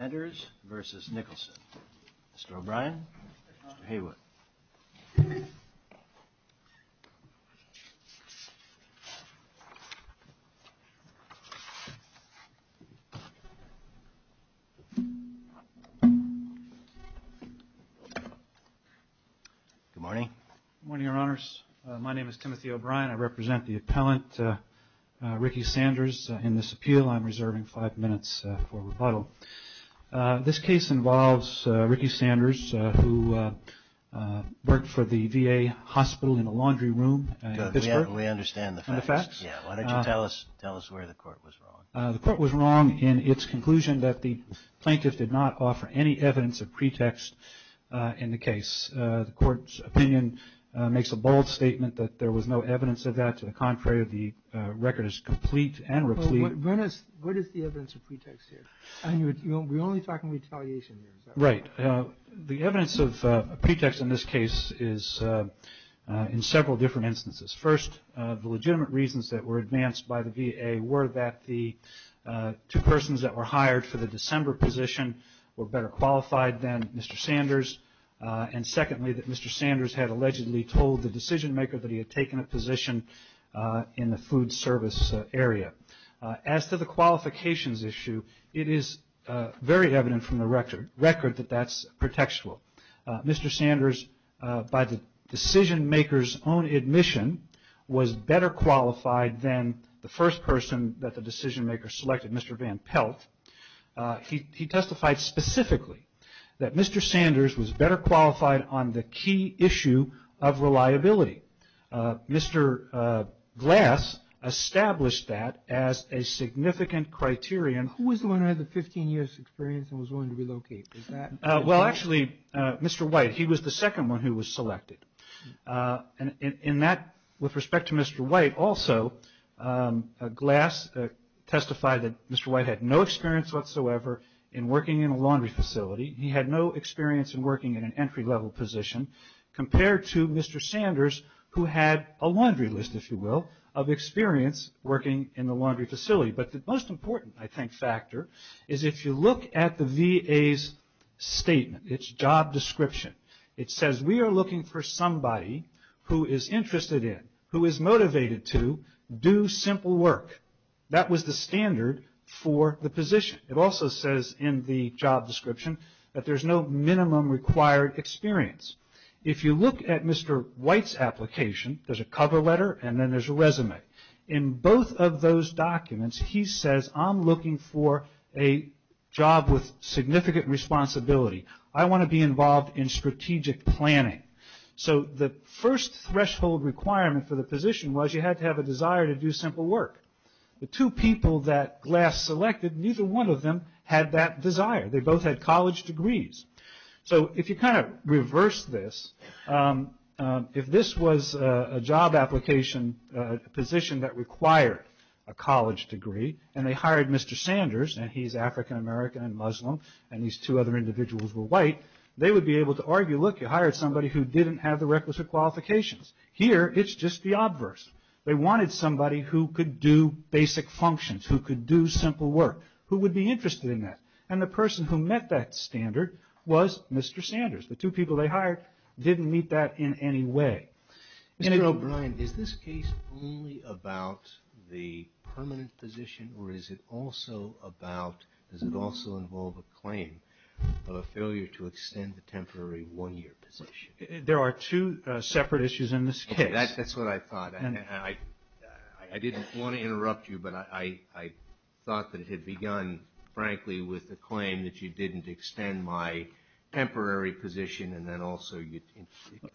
enters versus Nicholson. Mr. O'Brien, Mr. Haywood. Good morning. Good morning, Your Honors. My name is Timothy O'Brien. I represent the appellant, Ricky Sanders, in this appeal. I'm reserving five minutes for rebuttal. This case involves Ricky Sanders, who worked for the VA hospital in a laundry room. We understand the facts. The facts. Why don't you tell us where the court was wrong? The court was wrong in its conclusion that the plaintiff did not offer any evidence of pretext in the case. The court's opinion makes a bold statement that there was no evidence of that. To the contrary, the record is complete and replete. What is the evidence of pretext here? We're only talking retaliation here. Right. The evidence of pretext in this case is in several different instances. First, the legitimate reasons that were advanced by the VA were that the two persons that were hired for the December position were better qualified than Mr. Sanders, and secondly, that Mr. Sanders had allegedly told the decision maker that he had taken a position in the food service area. As to the qualifications issue, it is very evident from the record that that's pretextual. Mr. Sanders, by the decision maker's own admission, was better qualified than the first person that the decision maker selected, Mr. Van Pelt. He testified specifically that Mr. Sanders was better qualified on the key issue of reliability. Mr. Glass established that as a significant criterion. Who was the one who had the 15 years' experience and was willing to relocate? Well, actually, Mr. White. He was the second one who was selected. In that, with respect to Mr. White also, Glass testified that Mr. White had no experience whatsoever in working in a laundry facility. He had no experience in working in an entry-level position compared to Mr. Sanders, who had a laundry list, if you will, of experience working in the laundry facility. But the most important, I think, factor is if you look at the VA's statement, its job description, it says we are looking for somebody who is interested in, who is motivated to do simple work. That was the standard for the position. It also says in the job description that there's no minimum required experience. If you look at Mr. White's application, there's a cover letter and then there's a resume. In both of those documents, he says, I'm looking for a job with significant responsibility. I want to be involved in strategic planning. So the first threshold requirement for the position was you had to have a desire to do simple work. The two people that Glass selected, neither one of them had that desire. They both had college degrees. So if you kind of reverse this, if this was a job application position that required a college degree, and they hired Mr. Sanders, and he's African American and Muslim, and these two other individuals were white, they would be able to argue, look, you hired somebody who didn't have the requisite qualifications. Here, it's just the obverse. They wanted somebody who could do basic functions, who could do simple work, who would be interested in that. And the person who met that standard was Mr. Sanders. The two people they hired didn't meet that in any way. Mr. O'Brien, is this case only about the permanent position, or does it also involve a claim of a failure to extend the temporary one-year position? There are two separate issues in this case. That's what I thought. I didn't want to interrupt you, but I thought that it had begun, frankly, with the claim that you didn't extend my temporary position, and then also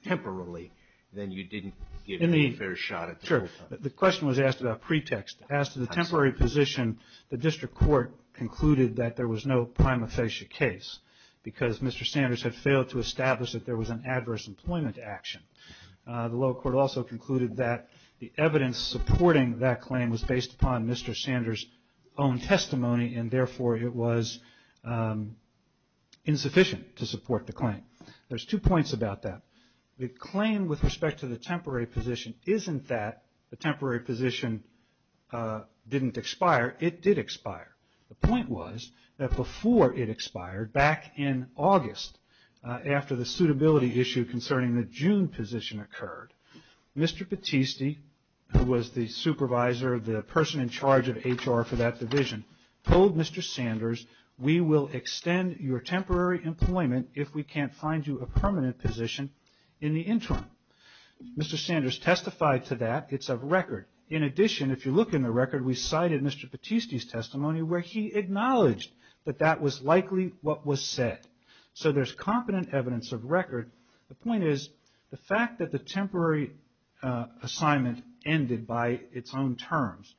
temporarily, then you didn't give me a fair shot at the whole thing. Sure. The question was asked about pretext. As to the temporary position, the district court concluded that there was no prima facie case because Mr. Sanders had failed to establish that there was an adverse employment action. The lower court also concluded that the evidence supporting that claim was based upon Mr. Sanders' own testimony, and therefore it was insufficient to support the claim. There's two points about that. The claim with respect to the temporary position isn't that the temporary position didn't expire. It did expire. The point was that before it expired, back in August, after the suitability issue concerning the June position occurred, Mr. Battisti, who was the supervisor, the person in charge of HR for that division, told Mr. Sanders, we will extend your temporary employment if we can't find you a permanent position in the interim. Mr. Sanders testified to that. It's a record. In addition, if you look in the record, we cited Mr. Battisti's testimony where he acknowledged that that was likely what was said. So there's competent evidence of record. The point is the fact that the temporary assignment ended by its own terms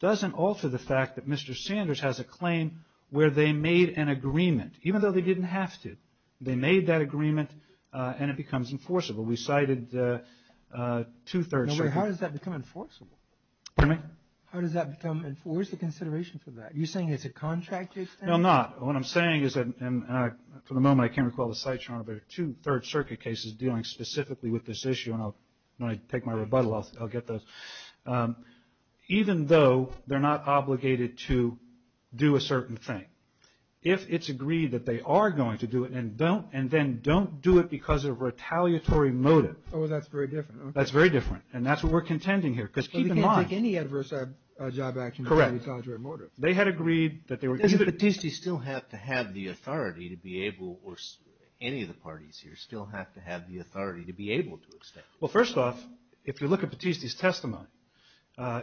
doesn't alter the fact that Mr. Sanders has a claim where they made an agreement, even though they didn't have to. They made that agreement, and it becomes enforceable. We cited two-thirds. How does that become enforceable? Pardon me? How does that become enforceable? Where's the consideration for that? Are you saying it's a contract? No, I'm not. What I'm saying is that, for the moment, I can't recall the site chart, but there are two third-circuit cases dealing specifically with this issue, and I'll take my rebuttal off. I'll get those. Even though they're not obligated to do a certain thing, if it's agreed that they are going to do it and then don't do it because of retaliatory motive. Oh, that's very different. That's very different, and that's what we're contending here. Because keep in mind. They can't take any adverse job action. Correct. Retaliatory motive. They had agreed that they were going to do it. Does Batisti still have to have the authority to be able, or any of the parties here still have to have the authority to be able to extend it? Well, first off, if you look at Batisti's testimony,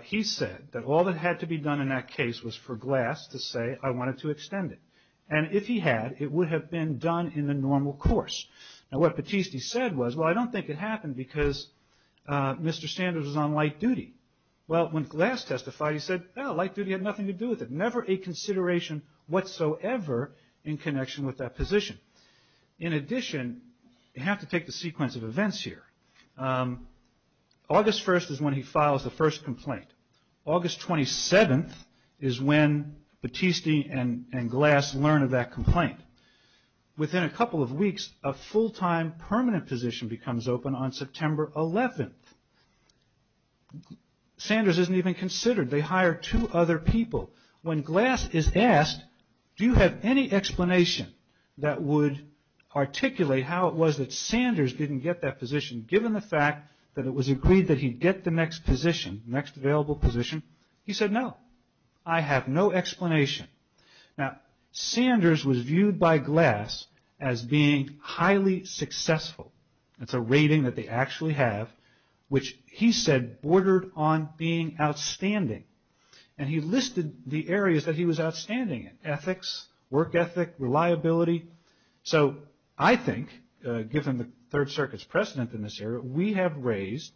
he said that all that had to be done in that case was for Glass to say, I wanted to extend it. And if he had, it would have been done in the normal course. Now what Batisti said was, well, I don't think it happened because Mr. Sanders was on light duty. Well, when Glass testified, he said, no, light duty had nothing to do with it. Never a consideration whatsoever in connection with that position. In addition, you have to take the sequence of events here. August 1st is when he files the first complaint. Within a couple of weeks, a full-time permanent position becomes open on September 11th. Sanders isn't even considered. They hire two other people. When Glass is asked, do you have any explanation that would articulate how it was that Sanders didn't get that position given the fact that it was agreed that he'd get the next position, next available position? He said, no. I have no explanation. Now, Sanders was viewed by Glass as being highly successful. It's a rating that they actually have, which he said bordered on being outstanding. And he listed the areas that he was outstanding in, ethics, work ethic, reliability. So I think given the Third Circuit's precedent in this area, we have raised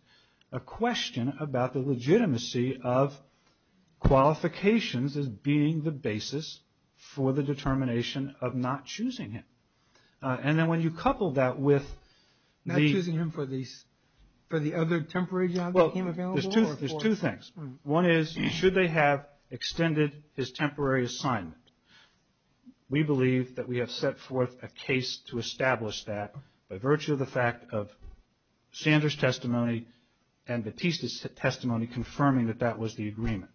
a question about the legitimacy of qualifications as being the basis for the determination of not choosing him. And then when you couple that with the... Not choosing him for the other temporary job that became available? Well, there's two things. One is, should they have extended his temporary assignment? We believe that we have set forth a case to establish that by virtue of the fact of Sanders' testimony and Batista's testimony confirming that that was the agreement.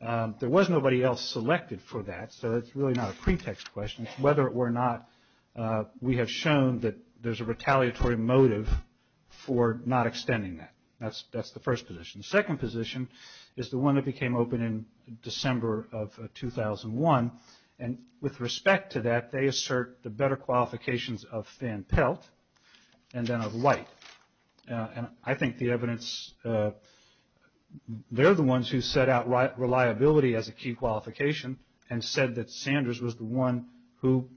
There was nobody else selected for that, so it's really not a pretext question. Whether it were not, we have shown that there's a retaliatory motive for not extending that. That's the first position. The second position is the one that became open in December of 2001. And with respect to that, they assert the better qualifications of Van Pelt and then of White. And I think the evidence... They're the ones who set out reliability as a key qualification and said that Sanders was the one who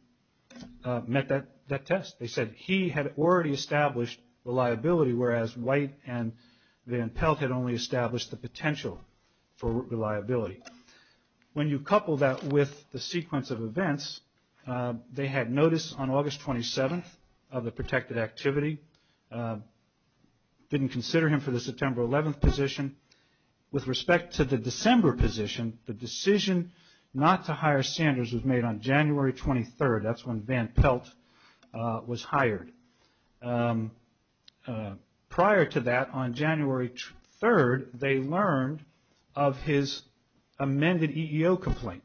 met that test. They said he had already established reliability, whereas White and Van Pelt had only established the potential for reliability. When you couple that with the sequence of events, they had notice on August 27th of the protected activity, didn't consider him for the September 11th position. With respect to the December position, the decision not to hire Sanders was made on January 23rd. That's when Van Pelt was hired. Prior to that, on January 3rd, they learned of his amended EEO complaint.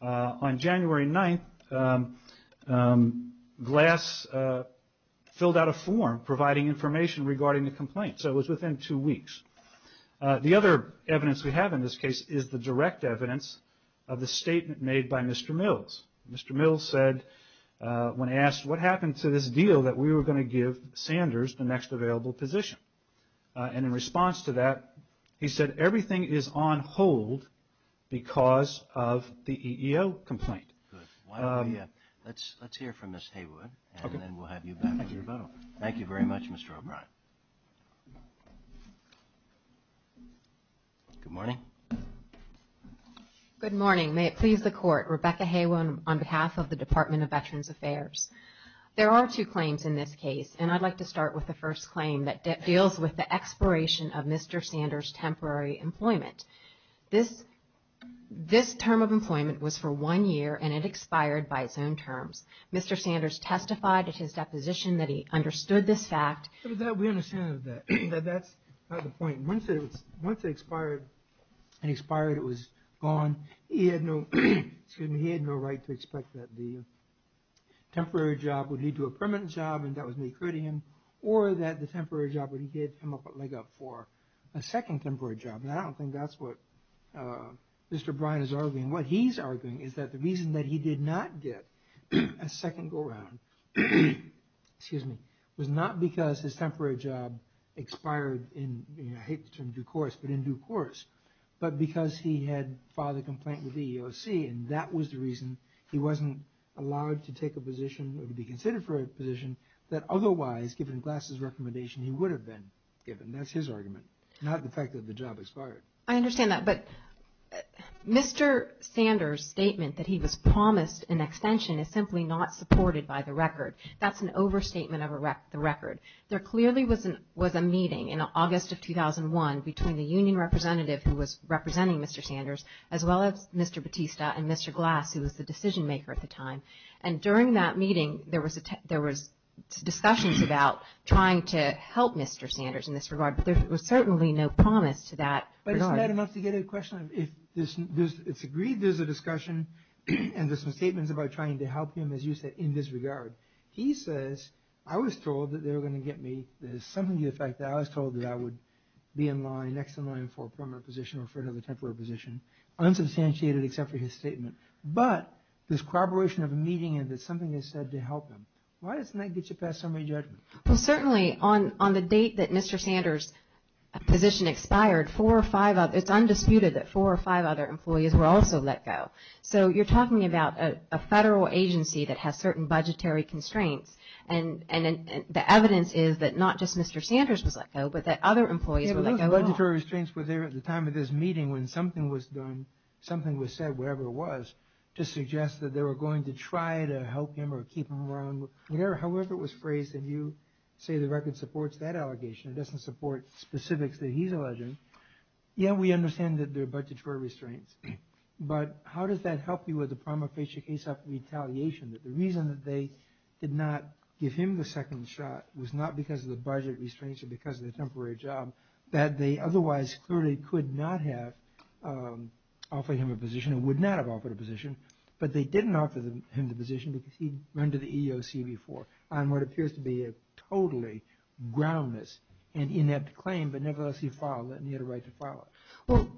On January 9th, Glass filled out a form providing information regarding the complaint, so it was within two weeks. The other evidence we have in this case is the direct evidence of the statement made by Mr. Mills. Mr. Mills said when asked what happened to this deal that we were going to give Sanders the next available position. And in response to that, he said everything is on hold because of the EEO complaint. Good. Let's hear from Ms. Haywood, and then we'll have you back for rebuttal. Thank you very much, Mr. O'Brien. Good morning. Good morning. May it please the Court, Rebecca Haywood on behalf of the Department of Veterans Affairs. There are two claims in this case, and I'd like to start with the first claim that deals with the expiration of Mr. Sanders' temporary employment. This term of employment was for one year, and it expired by its own terms. Mr. Sanders testified at his deposition that he understood this fact. We understand that. That's not the point. Once it expired and expired, it was gone. He had no right to expect that the temporary job would lead to a permanent job, and that was an accretion, or that the temporary job would get him a leg up for a second temporary job. I don't think that's what Mr. O'Brien is arguing. What he's arguing is that the reason that he did not get a second go-round was not because his temporary job expired in, I hate the term due course, but in due course, but because he had filed a complaint with the EEOC, and that was the reason he wasn't allowed to take a position or be considered for a position that otherwise, given Glass's recommendation, he would have been given. That's his argument, not the fact that the job expired. I understand that, but Mr. Sanders' statement that he was promised an extension is simply not supported by the record. That's an overstatement of the record. There clearly was a meeting in August of 2001 between the union representative who was representing Mr. Sanders as well as Mr. Batista and Mr. Glass, who was the decision-maker at the time, and during that meeting, there was discussions about trying to help Mr. Sanders in this regard, but there was certainly no promise to that regard. But isn't that enough to get a question? It's agreed there's a discussion and there's some statements about trying to help him, as you said, in this regard. He says, I was told that they were going to get me, there's something to the fact that I was told that I would be in line, next in line for a permanent position or for another temporary position, unsubstantiated except for his statement, but there's corroboration of a meeting and that something is said to help him. Why doesn't that get you past summary judgment? Certainly, on the date that Mr. Sanders' position expired, it's undisputed that four or five other employees were also let go. So you're talking about a federal agency that has certain budgetary constraints, and the evidence is that not just Mr. Sanders was let go, but that other employees were let go as well. Those budgetary constraints were there at the time of this meeting when something was done, something was said, whatever it was, to suggest that they were going to try to help him or keep him around. However it was phrased, and you say the record supports that allegation, it doesn't support specifics that he's alleging. Yeah, we understand that there are budgetary restraints, but how does that help you with the prima facie case of retaliation, that the reason that they did not give him the second shot was not because of the budget restraints or because of the temporary job that they otherwise clearly could not have offered him a position and would not have offered a position, but they didn't offer him the position because he'd run to the EEOC before on what appears to be a totally groundless and inept claim, but nevertheless he filed it and he had a right to file it. Well,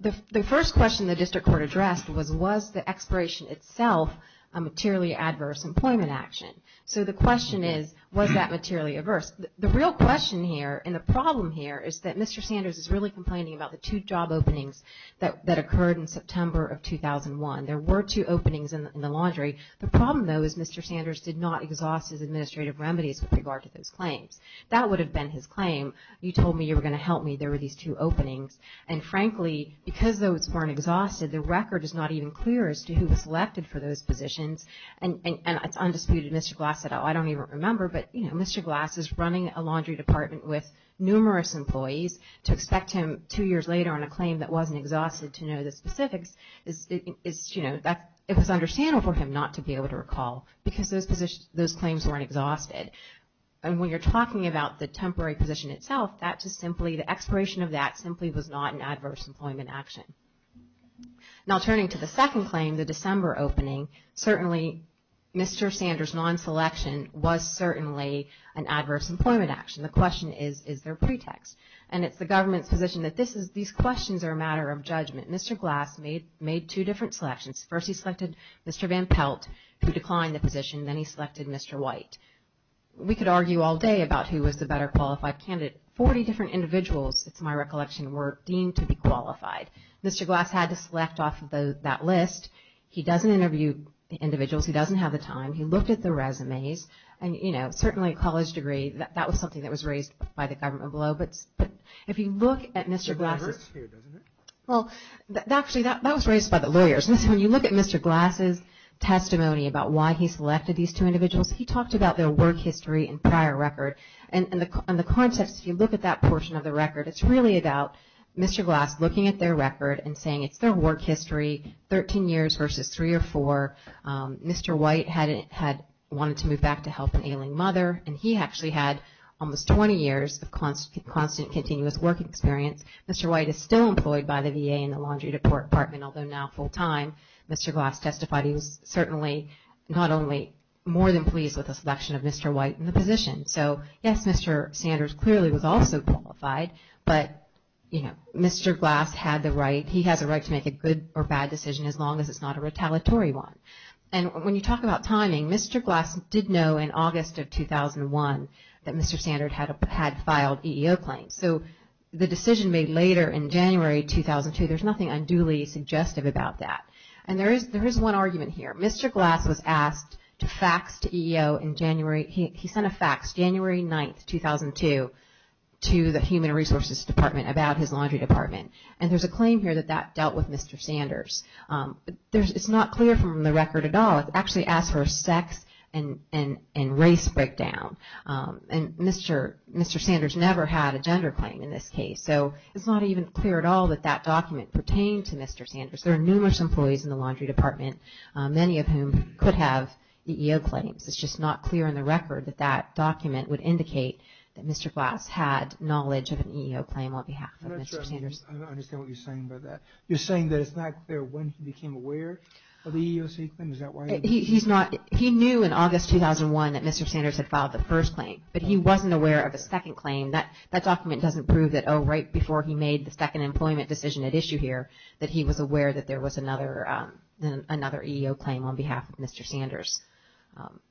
the first question the district court addressed was, was the expiration itself a materially adverse employment action? So the question is, was that materially adverse? The real question here, and the problem here, is that Mr. Sanders is really complaining about the two job openings that occurred in September of 2001. There were two openings in the laundry. The problem, though, is Mr. Sanders did not exhaust his administrative remedies with regard to those claims. That would have been his claim, you told me you were going to help me, there were these two openings, and frankly, because those weren't exhausted, the record is not even clear as to who was selected for those positions, and it's undisputed, Mr. Glass said, oh, I don't even remember, but Mr. Glass is running a laundry department with numerous employees to expect him two years later on a claim that wasn't exhausted to know the specifics, it was understandable for him not to be able to recall because those claims weren't exhausted. And when you're talking about the temporary position itself, the expiration of that simply was not an adverse employment action. Now turning to the second claim, the December opening, certainly Mr. Sanders' non-selection was certainly an adverse employment action. The question is, is there a pretext? And it's the government's position that these questions are a matter of judgment. Mr. Glass made two different selections. First, he selected Mr. Van Pelt, who declined the position, then he selected Mr. White. We could argue all day about who was the better qualified candidate. Forty different individuals, it's my recollection, were deemed to be qualified. Mr. Glass had to select off of that list. He doesn't interview the individuals. He doesn't have the time. He looked at the resumes and, you know, certainly a college degree, that was something that was raised by the government below. But if you look at Mr. Glass' – It's reversed here, doesn't it? Well, actually, that was raised by the lawyers. When you look at Mr. Glass' testimony about why he selected these two individuals, he talked about their work history and prior record. And in the context, if you look at that portion of the record, it's really about Mr. Glass looking at their record and saying it's their work history, 13 years versus three or four. Mr. White had wanted to move back to help an ailing mother, and he actually had almost 20 years of constant continuous work experience. Mr. White is still employed by the VA in the laundry department, although now full-time. Mr. Glass testified he was certainly not only more than pleased with the selection of Mr. White in the position. So, yes, Mr. Sanders clearly was also qualified, but, you know, Mr. Glass had the right. He has a right to make a good or bad decision as long as it's not a retaliatory one. And when you talk about timing, Mr. Glass did know in August of 2001 that Mr. Sanders had filed EEO claims. So the decision made later in January 2002, there's nothing unduly suggestive about that. And there is one argument here. Mr. Glass was asked to fax to EEO in January. He sent a fax January 9, 2002, to the Human Resources Department about his laundry department. And there's a claim here that that dealt with Mr. Sanders. It's not clear from the record at all. It's actually asked for a sex and race breakdown. And Mr. Sanders never had a gender claim in this case. So it's not even clear at all that that document pertained to Mr. Sanders. There are numerous employees in the laundry department, many of whom could have EEO claims. It's just not clear in the record that that document would indicate that Mr. Glass had knowledge of an EEO claim on behalf of Mr. Sanders. I don't understand what you're saying by that. You're saying that it's not clear when he became aware of the EEOC claim? He knew in August 2001 that Mr. Sanders had filed the first claim, but he wasn't aware of a second claim. That document doesn't prove that, oh, right before he made the second employment decision at issue here, that he was aware that there was another EEO claim on behalf of Mr. Sanders.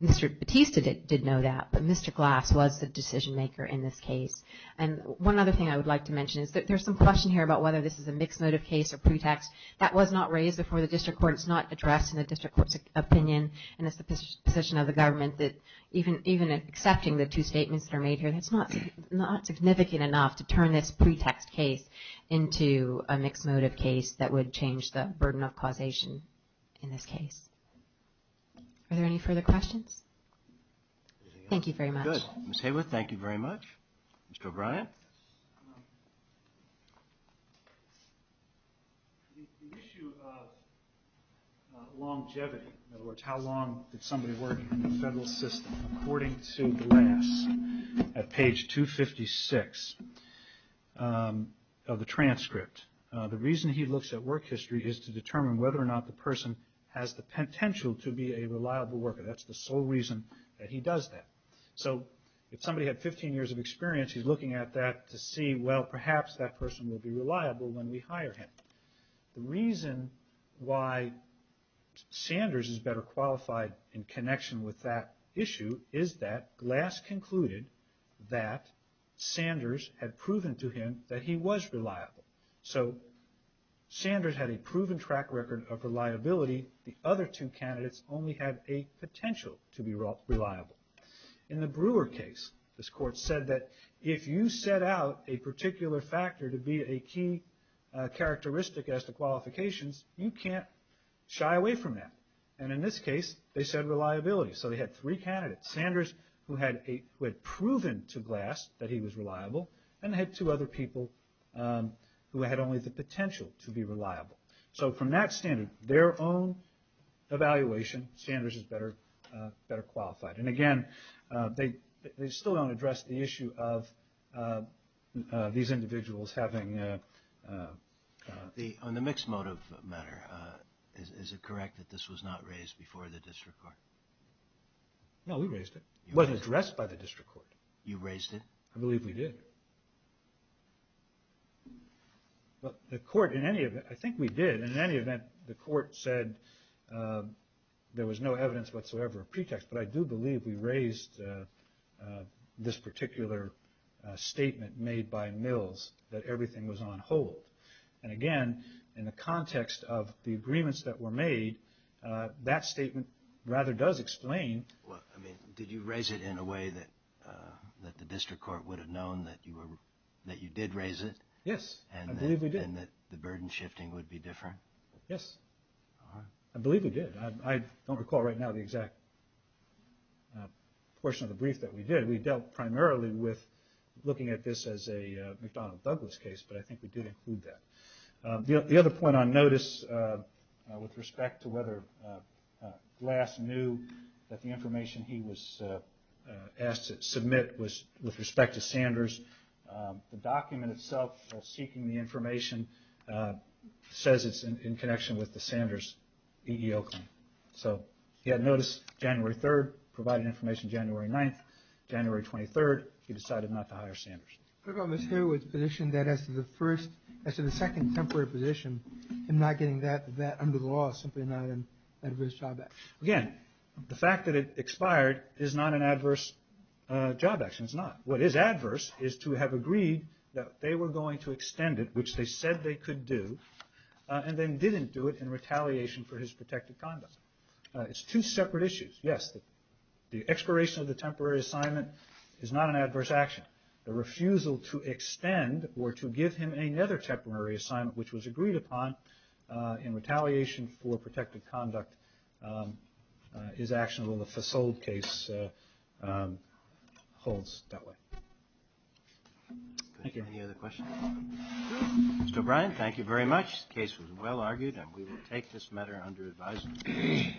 Mr. Batista did know that, but Mr. Glass was the decision maker in this case. And one other thing I would like to mention is that there's some question here about whether this is a mixed motive case or pretext. That was not raised before the district court. It's not addressed in the district court's opinion. And it's the position of the government that even accepting the two statements that are made here, that's not significant enough to turn this pretext case into a mixed motive case that would change the burden of causation in this case. Are there any further questions? Thank you very much. Very good. Ms. Hayworth, thank you very much. Mr. O'Brien. The issue of longevity, in other words, how long did somebody work in the federal system, according to Glass at page 256 of the transcript, the reason he looks at work history is to determine whether or not the person has the potential to be a reliable worker. That's the sole reason that he does that. So if somebody had 15 years of experience, he's looking at that to see, well, perhaps that person will be reliable when we hire him. The reason why Sanders is better qualified in connection with that issue is that Glass concluded that Sanders had proven to him that he was reliable. So Sanders had a proven track record of reliability. The other two candidates only had a potential to be reliable. In the Brewer case, this court said that if you set out a particular factor to be a key characteristic as to qualifications, you can't shy away from that. And in this case, they said reliability. So they had three candidates. Sanders, who had proven to Glass that he was reliable, and they had two other people who had only the potential to be reliable. So from that standard, their own evaluation, Sanders is better qualified. And again, they still don't address the issue of these individuals having... On the mixed motive matter, is it correct that this was not raised before the district court? No, we raised it. It wasn't addressed by the district court. You raised it? I believe we did. Well, the court, in any event, I think we did. In any event, the court said there was no evidence whatsoever of pretext. But I do believe we raised this particular statement made by Mills that everything was on hold. And again, in the context of the agreements that were made, that statement rather does explain... Did you raise it in a way that the district court would have known that you did raise it? Yes, I believe we did. And that the burden shifting would be different? Yes, I believe we did. I don't recall right now the exact portion of the brief that we did. We dealt primarily with looking at this as a McDonnell Douglas case, but I think we did include that. The other point on notice with respect to whether Glass knew that the information he was asked to submit was with respect to Sanders. The document itself, while seeking the information, says it's in connection with the Sanders EEO claim. So he had notice January 3rd, provided information January 9th. January 23rd, he decided not to hire Sanders. What about Mr. Hayward's position that as to the second temporary position, him not getting that under the law is simply not an adverse job action? Again, the fact that it expired is not an adverse job action. It's not. What is adverse is to have agreed that they were going to extend it, which they said they could do, and then didn't do it in retaliation for his protected conduct. It's two separate issues. Yes, the expiration of the temporary assignment is not an adverse action. But the refusal to extend or to give him another temporary assignment, which was agreed upon in retaliation for protected conduct, is actionable. The Fassold case holds that way. Thank you. Any other questions? Mr. O'Brien, thank you very much. The case was well argued, and we will take this matter under advisory.